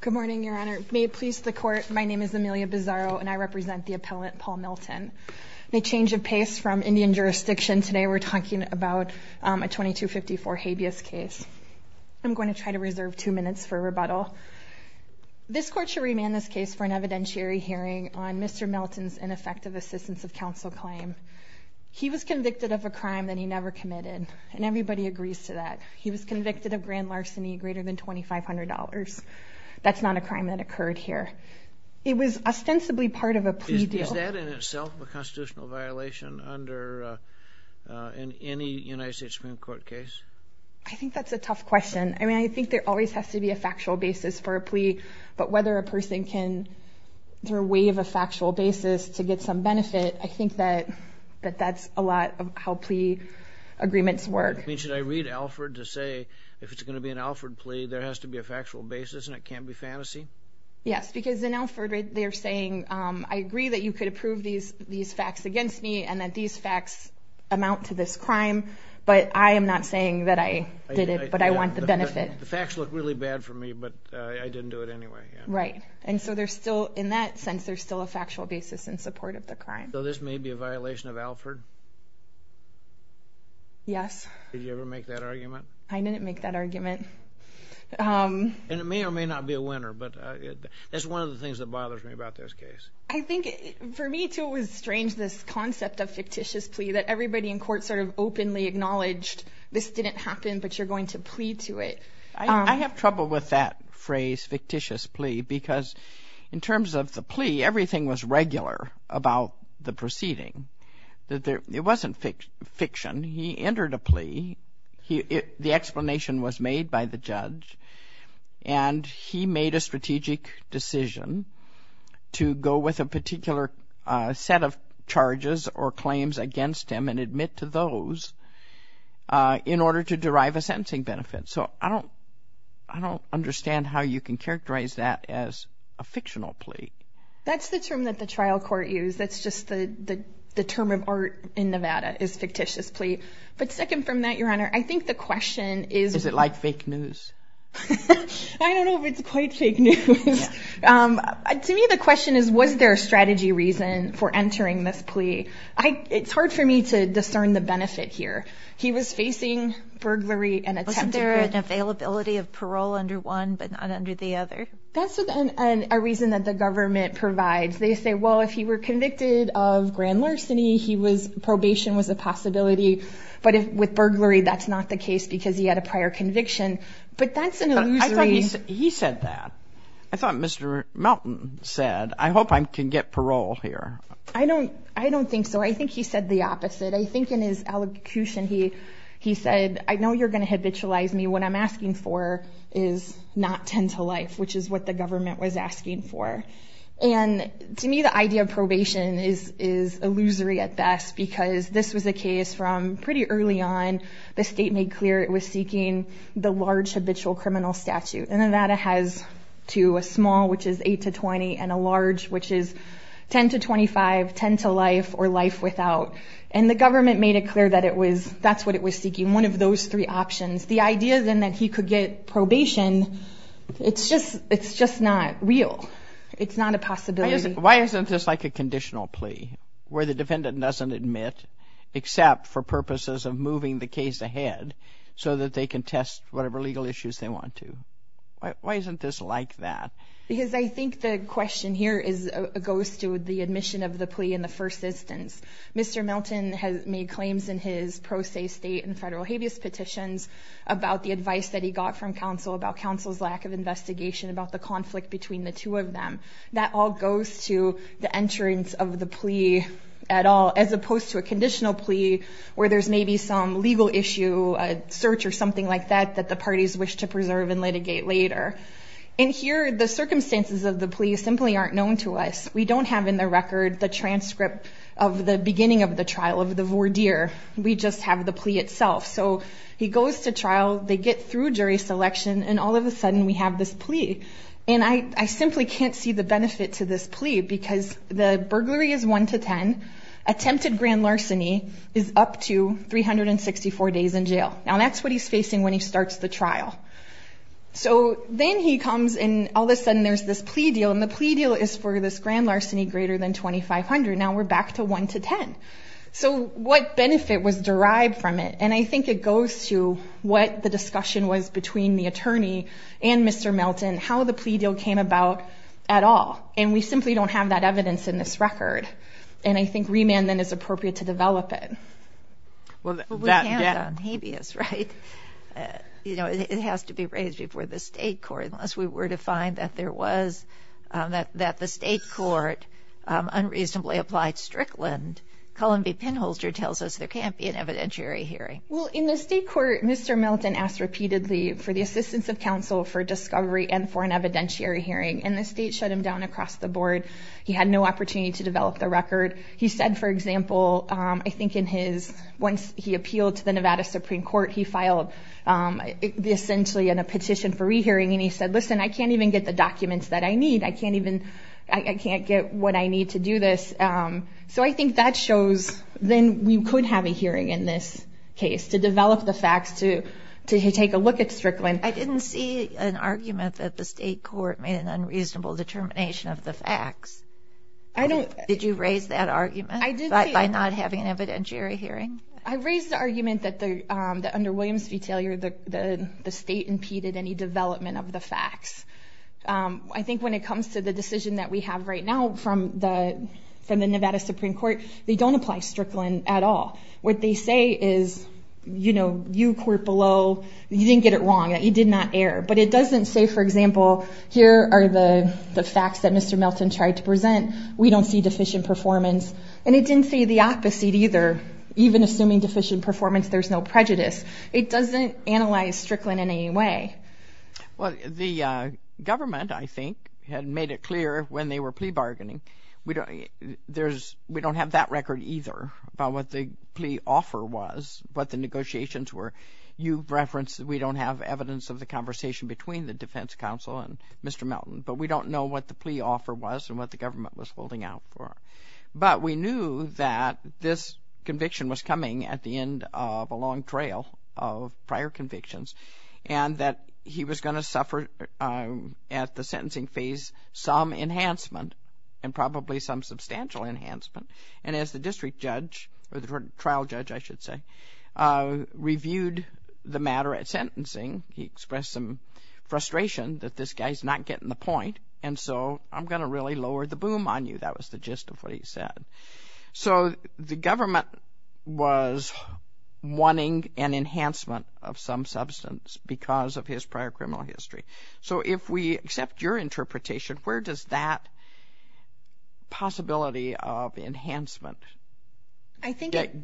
Good morning, Your Honor. May it please the court, my name is Amelia Bizzaro and I represent the appellant Paul Milton. A change of pace from Indian jurisdiction, today we're talking about a 2254 habeas case. I'm going to try to reserve two minutes for rebuttal. This court should remand this case for an evidentiary hearing on Mr. Milton's ineffective assistance of counsel claim. He was convicted of a crime that he never committed, and everybody agrees to that. He was convicted of grand larceny greater than $2,500. That's not a crime that occurred here. It was ostensibly part of a plea deal. Is that in itself a constitutional violation under any United States Supreme Court case? I think that's a tough question. I mean, I think there always has to be a factual basis for a plea, but whether a person can through way of a factual basis to get some benefit, I think that that's a lot of how the agreements work. I mean, should I read Alford to say if it's going to be an Alford plea, there has to be a factual basis and it can't be fantasy? Yes, because in Alford they're saying, I agree that you could approve these facts against me and that these facts amount to this crime, but I am not saying that I did it, but I want the benefit. The facts look really bad for me, but I didn't do it anyway. Right. And so there's still in that sense, there's still a factual basis in support of the crime. So this may be a Yes. Did you ever make that argument? I didn't make that argument. And it may or may not be a winner, but that's one of the things that bothers me about this case. I think for me too, it was strange, this concept of fictitious plea that everybody in court sort of openly acknowledged this didn't happen, but you're going to plea to it. I have trouble with that phrase fictitious plea because in terms of the plea, everything was regular about the conviction. He entered a plea. The explanation was made by the judge and he made a strategic decision to go with a particular set of charges or claims against him and admit to those in order to derive a sentencing benefit. So I don't understand how you can characterize that as a fictional plea. That's the term that the trial court used. That's just the term of art in Nevada is fictitious plea. But second from that, Your Honor, I think the question is, is it like fake news? I don't know if it's quite fake news. To me, the question is, was there a strategy reason for entering this plea? It's hard for me to discern the benefit here. He was facing burglary and attempted murder. Wasn't there an availability of parole under one but not under the other? That's a reason that the government provides. They say, well, if he were convicted of grand larceny, probation was a possibility. But with burglary, that's not the case because he had a prior conviction. But that's an illusory... He said that. I thought Mr. Melton said, I hope I can get parole here. I don't think so. I think he said the opposite. I think in his elocution, he said, I know you're going to habitualize me. What I'm asking for is not 10 to life, which is what the government was asking for. To me, the idea of probation is illusory at best because this was a case from pretty early on. The state made clear it was seeking the large habitual criminal statute. Nevada has two, a small, which is 8 to 20, and a large, which is 10 to 25, 10 to life, or life without. The government made it clear that that's what it was seeking, one of those three options. The idea then that he could get probation, it's just not real. It's not a possibility. Why isn't this like a conditional plea where the defendant doesn't admit except for purposes of moving the case ahead so that they can test whatever legal issues they want to? Why isn't this like that? Because I think the question here goes to the admission of the plea in the first instance. Mr. Milton has made claims in his pro se state and federal habeas petitions about the advice that he got from counsel about counsel's lack of investigation about the conflict between the two of them. That all goes to the entrance of the plea at all, as opposed to a conditional plea where there's maybe some legal issue, a search or something like that that the parties wish to preserve and litigate later. In here, the circumstances of the plea simply aren't known to us. We don't have in the record the transcript of the beginning of the trial, of the voir dire. We just have the plea itself. He goes to trial, they get through jury selection, and all of a sudden we have this plea. I simply can't see the benefit to this plea because the burglary is one to ten, attempted grand larceny is up to 364 days in jail. Now that's what he's facing when he starts the trial. Then he comes and all of a sudden there's this plea deal, and the plea deal is for this $3,500. Now we're back to one to ten. So what benefit was derived from it? And I think it goes to what the discussion was between the attorney and Mr. Melton, how the plea deal came about at all. And we simply don't have that evidence in this record. And I think remand then is appropriate to develop it. Well, we can't on habeas, right? You know, it has to be raised before the state court unless we were to find that there was, that the state court unreasonably applied Strickland. Columby Pinholster tells us there can't be an evidentiary hearing. Well, in the state court, Mr. Melton asked repeatedly for the assistance of counsel for discovery and for an evidentiary hearing, and the state shut him down across the board. He had no opportunity to develop the record. He said, for example, I think in his, once he appealed to the Nevada Supreme Court, he filed essentially a petition for rehearing and he said, listen, I can't even get the documents that I need. I can't even, I can't get what I need to do this. So I think that shows then we could have a hearing in this case, to develop the facts, to take a look at Strickland. I didn't see an argument that the state court made an unreasonable determination of the facts. Did you raise that argument by not having an evidentiary hearing? I raised the argument that under Williams v. Taylor, the state impeded any development of the facts. I think when it comes to the decision that we have right now from the Nevada Supreme Court, they don't apply Strickland at all. What they say is, you know, you court below, you didn't get it wrong, you did not err. But it doesn't say, for example, here are the facts that Mr. Melton tried to present. We don't see deficient performance. And it didn't say the opposite either. Even assuming deficient performance, there's no prejudice. It doesn't analyze Strickland in any way. Well, the government, I think, had made it clear when they were plea bargaining, we don't have that record either about what the plea offer was, what the negotiations were. You referenced that we don't have evidence of the conversation between the defense counsel and Mr. Melton, but we don't know what the plea offer was and what the government was holding out for. But we knew that this conviction was coming at the end of a long trail of prior convictions, and that he was going to suffer at the sentencing phase some enhancement, and probably some substantial enhancement. And as the district judge, or the trial judge, I should say, reviewed the matter at sentencing, he expressed some frustration that this guy's not getting the point. And so I'm going to really lower the boom on you. That was the gist of what he said. So the government was wanting an enhancement of some substance because of his prior criminal history. So if we accept your interpretation, where does that possibility of enhancement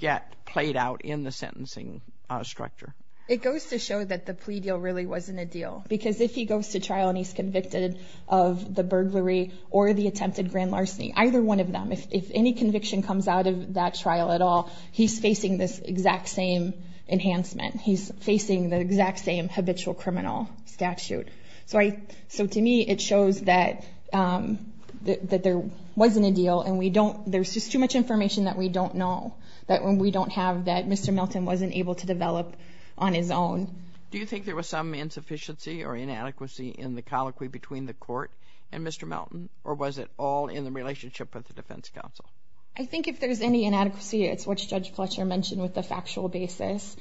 get played out in the sentencing structure? It goes to show that the plea deal really wasn't a deal. Because if he goes to trial and he's convicted of the burglary or the attempted grand larceny, either one of them, if any conviction comes out of that trial at all, he's facing this exact same enhancement. He's facing the exact same habitual criminal statute. So to me, it shows that there wasn't a deal. And there's just too much information that we don't know, that we don't have, that Mr. Melton wasn't able to develop on his own. Do you think there was some insufficiency or inadequacy in the colloquy between the court and Mr. Melton? Or was it all in the relationship with the defense counsel? I think if there's any inadequacy, it's what Judge Fletcher mentioned with the factual basis,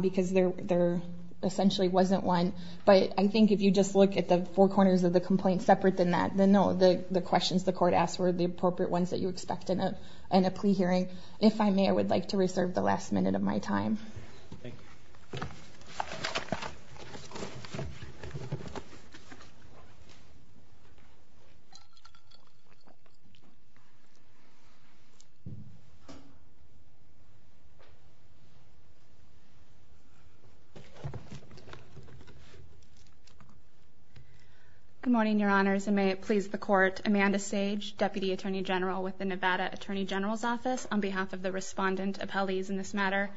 because there essentially wasn't one. But I think if you just look at the four corners of the complaint separate than that, then no, the questions the court asked were the appropriate ones that you expect in a plea hearing. If I may, I would like to reserve the last minute of my time. Good morning, Your Honors, and may it please the Court. Amanda Sage, Deputy Attorney General with the Nevada Attorney General's Office, on behalf of the respondent appellees in this matter.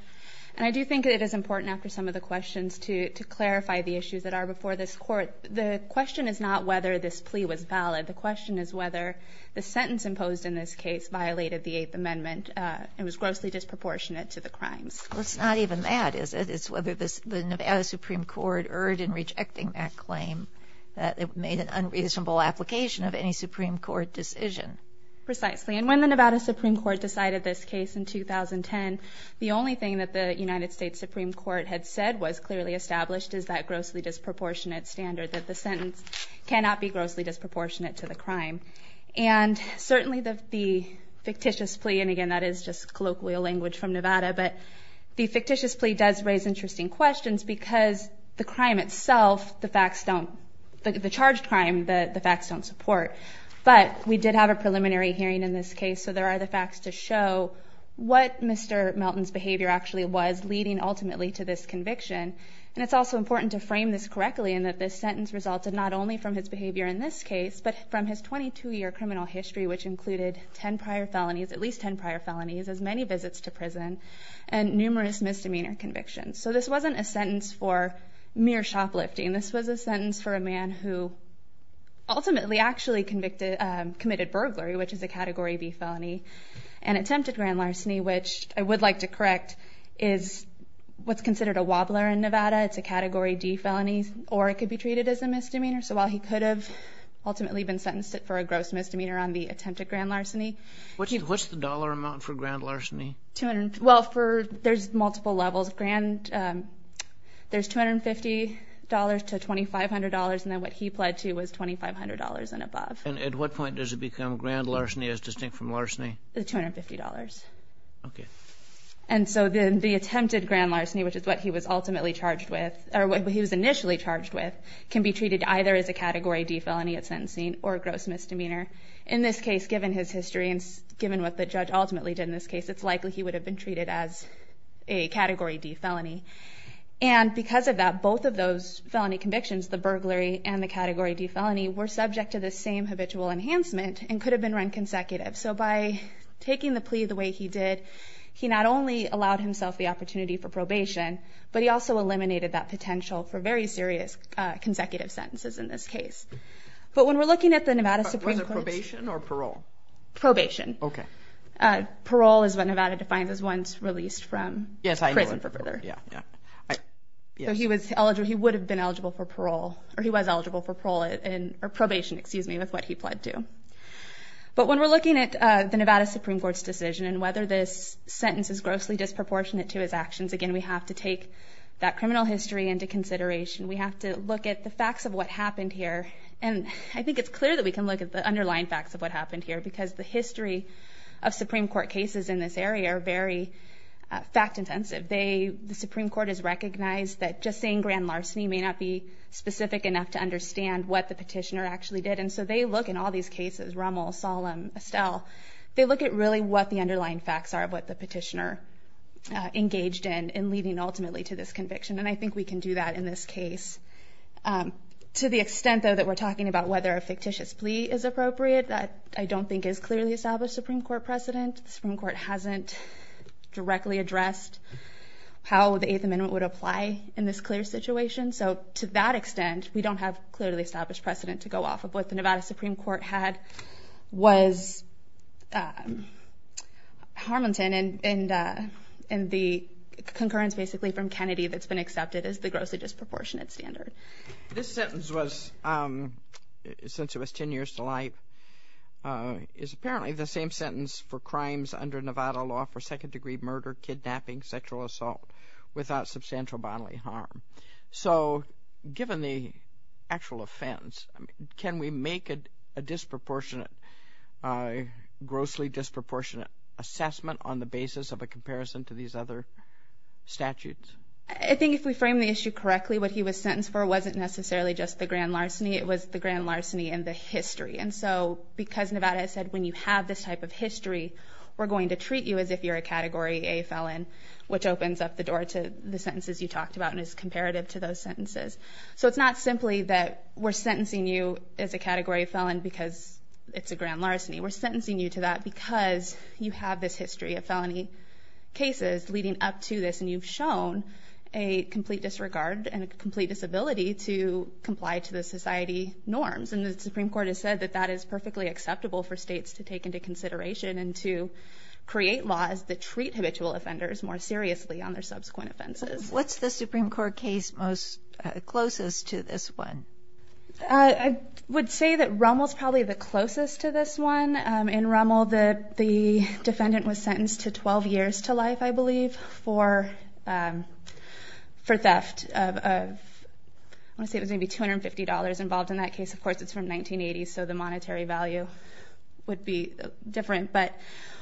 And I do think it is important after some of the questions to clarify the issues that are before this Court. The question is not whether this plea was valid. The question is whether the sentence imposed in this case violated the Eighth Amendment and was grossly disproportionate to the crimes. Well, it's not even that, is it? It's whether the Nevada Supreme Court erred in rejecting that claim, that it made an unreasonable application of any Supreme Court decision. Precisely. And when the Nevada Supreme Court decided this case in 2010, the only thing that the United States Supreme Court had said was clearly established is that grossly disproportionate standard, that the sentence cannot be grossly disproportionate to the crime. And certainly the fictitious plea, and again, that is just colloquial language from Nevada, but the fictitious plea does raise interesting questions, because the crime itself, the facts don't, the charged crime, the facts don't support. But we did have a preliminary hearing in this case, so there are the facts to show what Mr. Melton's behavior actually was, leading ultimately to this conviction. And it's also important to frame this correctly in that this sentence resulted not only from his behavior in this case, but from his 22-year criminal history, which included 10 prior felonies, at least 10 prior felonies, as many visits to prison, and numerous misdemeanor convictions. So this wasn't a sentence for mere shoplifting. This was a sentence for a man who ultimately actually committed burglary, which is a Category B felony. And attempted grand larceny, which I would like to correct, is what's considered a wobbler in Nevada. It's a Category D felony, or it could be treated as a misdemeanor. So while he could have ultimately been sentenced for a gross misdemeanor on the attempted grand larceny. What's the dollar amount for grand larceny? Well, there's multiple levels. There's $250 to $2,500, and then what he pled to was $2,500 and above. And at what point does it become grand larceny as distinct from larceny? The $250. Okay. And so then the attempted grand larceny, which is what he was ultimately charged with, or what he was initially charged with, can be treated either as a Category D felony at sentencing or a gross misdemeanor. In this case, given his history and given what the judge ultimately did in this case, it's likely he would have been treated as a Category D felony. And because of that, both of those felony convictions, the burglary and the Category D felony, were subject to the same habitual enhancement and could have been run consecutive. So by taking the plea the way he did, he not only allowed himself the opportunity for probation, but he also eliminated that potential for very serious consecutive sentences in this case. But when we're looking at the Nevada Supreme Court- Was it probation or parole? Probation. Okay. Yes, I know. He would have been eligible for parole, or he was eligible for probation with what he pled to. But when we're looking at the Nevada Supreme Court's decision and whether this sentence is grossly disproportionate to his actions, again, we have to take that criminal history into consideration. We have to look at the facts of what happened here. And I think it's clear that we can look at the underlying facts of what happened here, because the history of Supreme Court cases in this area are very fact-intensive. The Supreme Court has recognized that just saying grand larceny may not be specific enough to understand what the petitioner actually did. And so they look in all these cases, Rummel, Solemn, Estelle, they look at really what the underlying facts are of what the petitioner engaged in, and leading ultimately to this conviction. And I think we can do that in this case. To the extent, though, that we're talking about whether a fictitious plea is appropriate, that I don't think is clearly established Supreme Court precedent. The Supreme Court hasn't directly addressed how the Eighth Amendment would apply in this clear situation. So to that extent, we don't have clearly established precedent to go off of what the Nevada Supreme Court had was Harmonton and the concurrence, basically, from Kennedy that's been accepted as the grossly disproportionate standard. This sentence was, since it was 10 years to life, is apparently the same sentence for crimes under Nevada law for second-degree murder, kidnapping, sexual assault without substantial bodily harm. So given the actual offense, can we make a disproportionate, grossly disproportionate assessment on the basis of a comparison to these other statutes? I think if we frame the issue correctly, what he was sentenced for wasn't necessarily just grand larceny. It was the grand larceny and the history. And so because Nevada has said, when you have this type of history, we're going to treat you as if you're a Category A felon, which opens up the door to the sentences you talked about and is comparative to those sentences. So it's not simply that we're sentencing you as a Category A felon because it's a grand larceny. We're sentencing you to that because you have this history of felony cases leading up to this, and you've shown a complete disregard and a complete disability to comply to the society norms. And the Supreme Court has said that that is perfectly acceptable for states to take into consideration and to create laws that treat habitual offenders more seriously on their subsequent offenses. What's the Supreme Court case closest to this one? I would say that Rommel's probably the closest to this one. In Rommel, the defendant was sentenced to 12 years to life, I believe, for theft. I want to say it was maybe $250 involved in that case. Of course, it's from 1980, so the monetary value would be different. But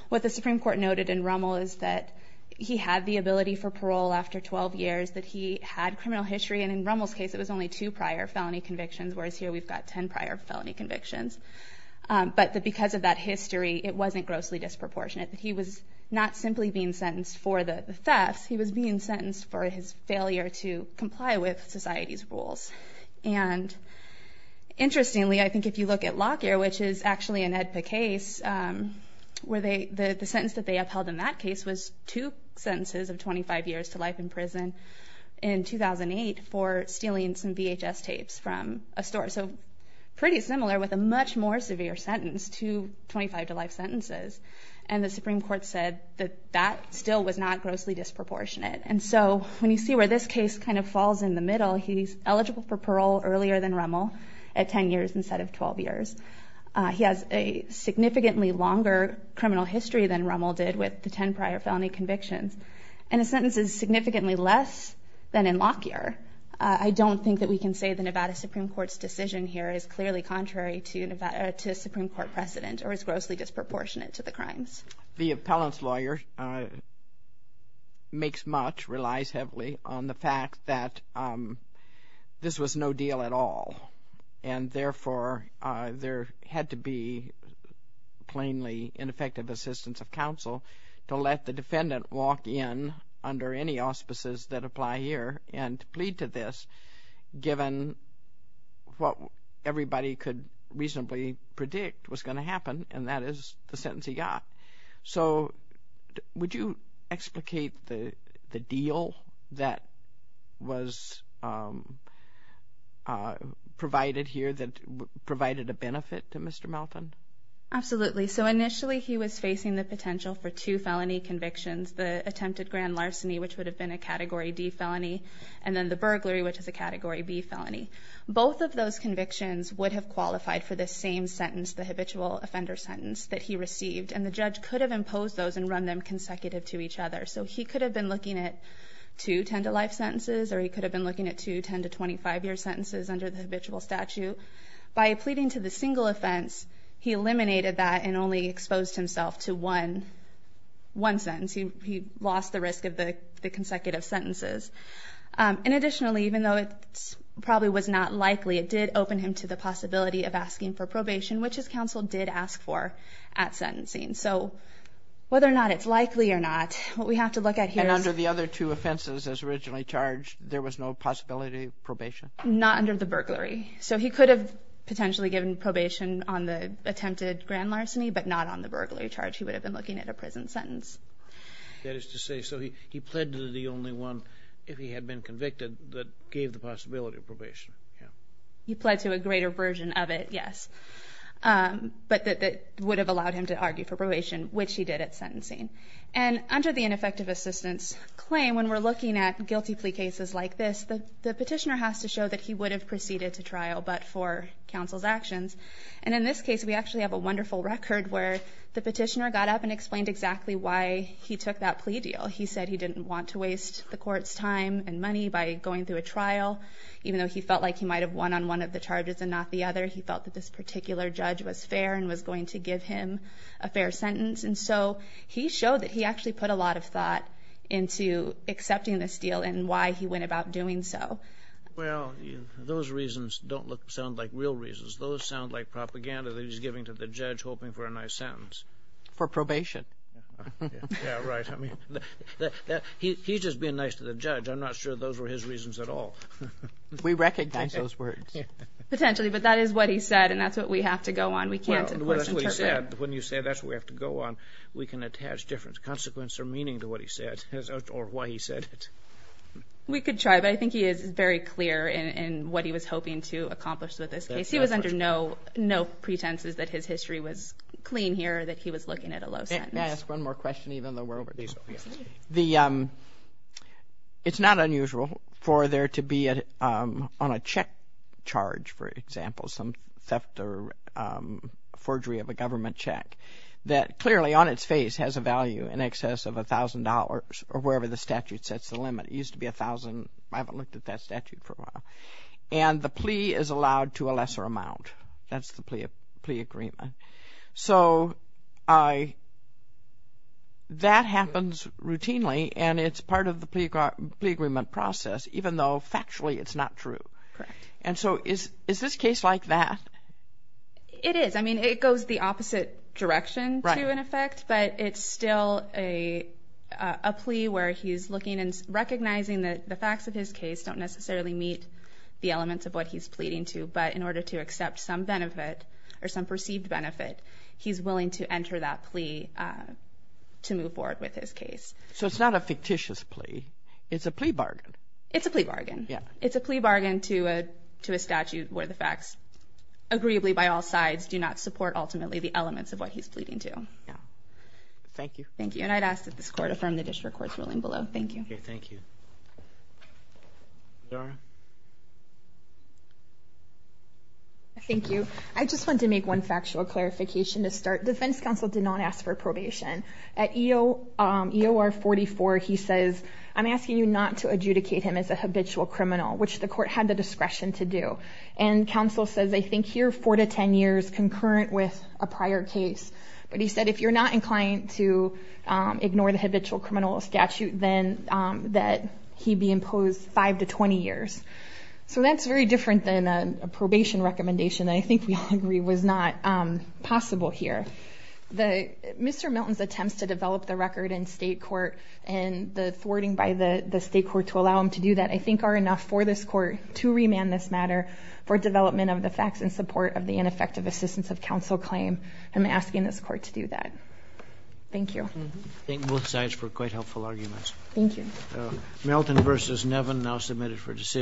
what the Supreme Court noted in Rommel is that he had the ability for parole after 12 years, that he had criminal history. And in Rommel's case, it was only two prior felony convictions, whereas here we've got 10 prior felony convictions. But because of that history, it wasn't grossly disproportionate that he was not simply being sentenced for the thefts, he was being sentenced for his failure to comply with society's rules. And interestingly, I think if you look at Lockyer, which is actually an AEDPA case, the sentence that they upheld in that case was two sentences of 25 years to life in prison in 2008 for stealing some VHS tapes from a store. So pretty similar with a much more severe sentence two 25 to life sentences. And the Supreme Court said that that still was not grossly disproportionate. And so when you see where this case kind of falls in the middle, he's eligible for parole earlier than Rommel at 10 years instead of 12 years. He has a significantly longer criminal history than Rommel did with the 10 prior felony convictions. And the sentence is significantly less than in Lockyer. I don't think that we can say the Nevada Supreme Court's here is clearly contrary to Nevada to Supreme Court precedent or is grossly disproportionate to the crimes. The appellant's lawyer makes much relies heavily on the fact that this was no deal at all. And therefore, there had to be plainly ineffective assistance of counsel to let the everybody could reasonably predict what's going to happen. And that is the sentence he got. So would you explicate the deal that was provided here that provided a benefit to Mr. Melton? Absolutely. So initially, he was facing the potential for two felony convictions, the attempted grand larceny, which would have been a category D felony, and then the burglary, which is a category B felony. Both of those convictions would have qualified for the same sentence, the habitual offender sentence that he received. And the judge could have imposed those and run them consecutive to each other. So he could have been looking at two 10-to-life sentences, or he could have been looking at two 10-to-25-year sentences under the habitual statute. By pleading to the single offense, he eliminated that and only And additionally, even though it probably was not likely, it did open him to the possibility of asking for probation, which his counsel did ask for at sentencing. So whether or not it's likely or not, what we have to look at here is... And under the other two offenses as originally charged, there was no possibility of probation? Not under the burglary. So he could have potentially given probation on the attempted grand larceny, but not on the burglary charge. He would have been looking at a prison sentence. That is to say, so he pled to the only one if he had been convicted that gave the possibility of probation. He pled to a greater version of it, yes. But that would have allowed him to argue for probation, which he did at sentencing. And under the ineffective assistance claim, when we're looking at guilty plea cases like this, the petitioner has to show that he would have proceeded to trial, but for counsel's actions. And in this case, we actually have a wonderful record where the petitioner got up and explained exactly why he took that plea deal. He said he by going through a trial, even though he felt like he might have won on one of the charges and not the other. He felt that this particular judge was fair and was going to give him a fair sentence. And so he showed that he actually put a lot of thought into accepting this deal and why he went about doing so. Well, those reasons don't sound like real reasons. Those sound like propaganda that he's giving to the judge, hoping for a nice sentence. For probation. Yeah, right. I mean, he's just being nice to the judge. I'm not sure those were his reasons at all. We recognize those words. Potentially. But that is what he said, and that's what we have to go on. We can't, of course, interpret. When you say that's what we have to go on, we can attach different consequences or meaning to what he said or why he said it. We could try, but I think he is very clear in what he was hoping to accomplish with this case. He was under no pretenses that his history was clean here, that he was looking at a low sentence. Can I ask one more question, even though we're over time? It's not unusual for there to be, on a check charge, for example, some theft or forgery of a government check that clearly, on its face, has a value in excess of a thousand dollars or wherever the statute sets the limit. It used to be a thousand. I haven't looked at that statute for a while. And the plea is allowed to a lesser amount. That's the plea agreement. So that happens routinely, and it's part of the plea agreement process, even though factually it's not true. Correct. And so is this case like that? It is. I mean, it goes the opposite direction to an effect, but it's still a plea where he's looking and recognizing that the facts of his case don't necessarily meet the elements of what he's pleading to, but in order to accept some benefit or some perceived benefit, he's willing to enter that plea to move forward with his case. So it's not a fictitious plea. It's a plea bargain. It's a plea bargain. Yeah. It's a plea bargain to a statute where the facts, agreeably by all sides, do not support ultimately the elements of what he's pleading to. Yeah. Thank you. Thank you. And I'd ask that this I just want to make one factual clarification to start. Defense counsel did not ask for probation. At EOR 44, he says, I'm asking you not to adjudicate him as a habitual criminal, which the court had the discretion to do. And counsel says, I think here, four to 10 years concurrent with a prior case. But he said, if you're not inclined to ignore the habitual criminal statute, then that he be imposed five to 20 years. So that's very different than a probation recommendation. I think we all agree was not possible here. Mr. Milton's attempts to develop the record in state court and the thwarting by the state court to allow him to do that, I think, are enough for this court to remand this matter for development of the facts in support of the ineffective assistance of counsel claim. I'm asking this court to do that. Thank you. Thank both sides for quite helpful arguments. Thank you. Milton versus Nevin now submitted for decision.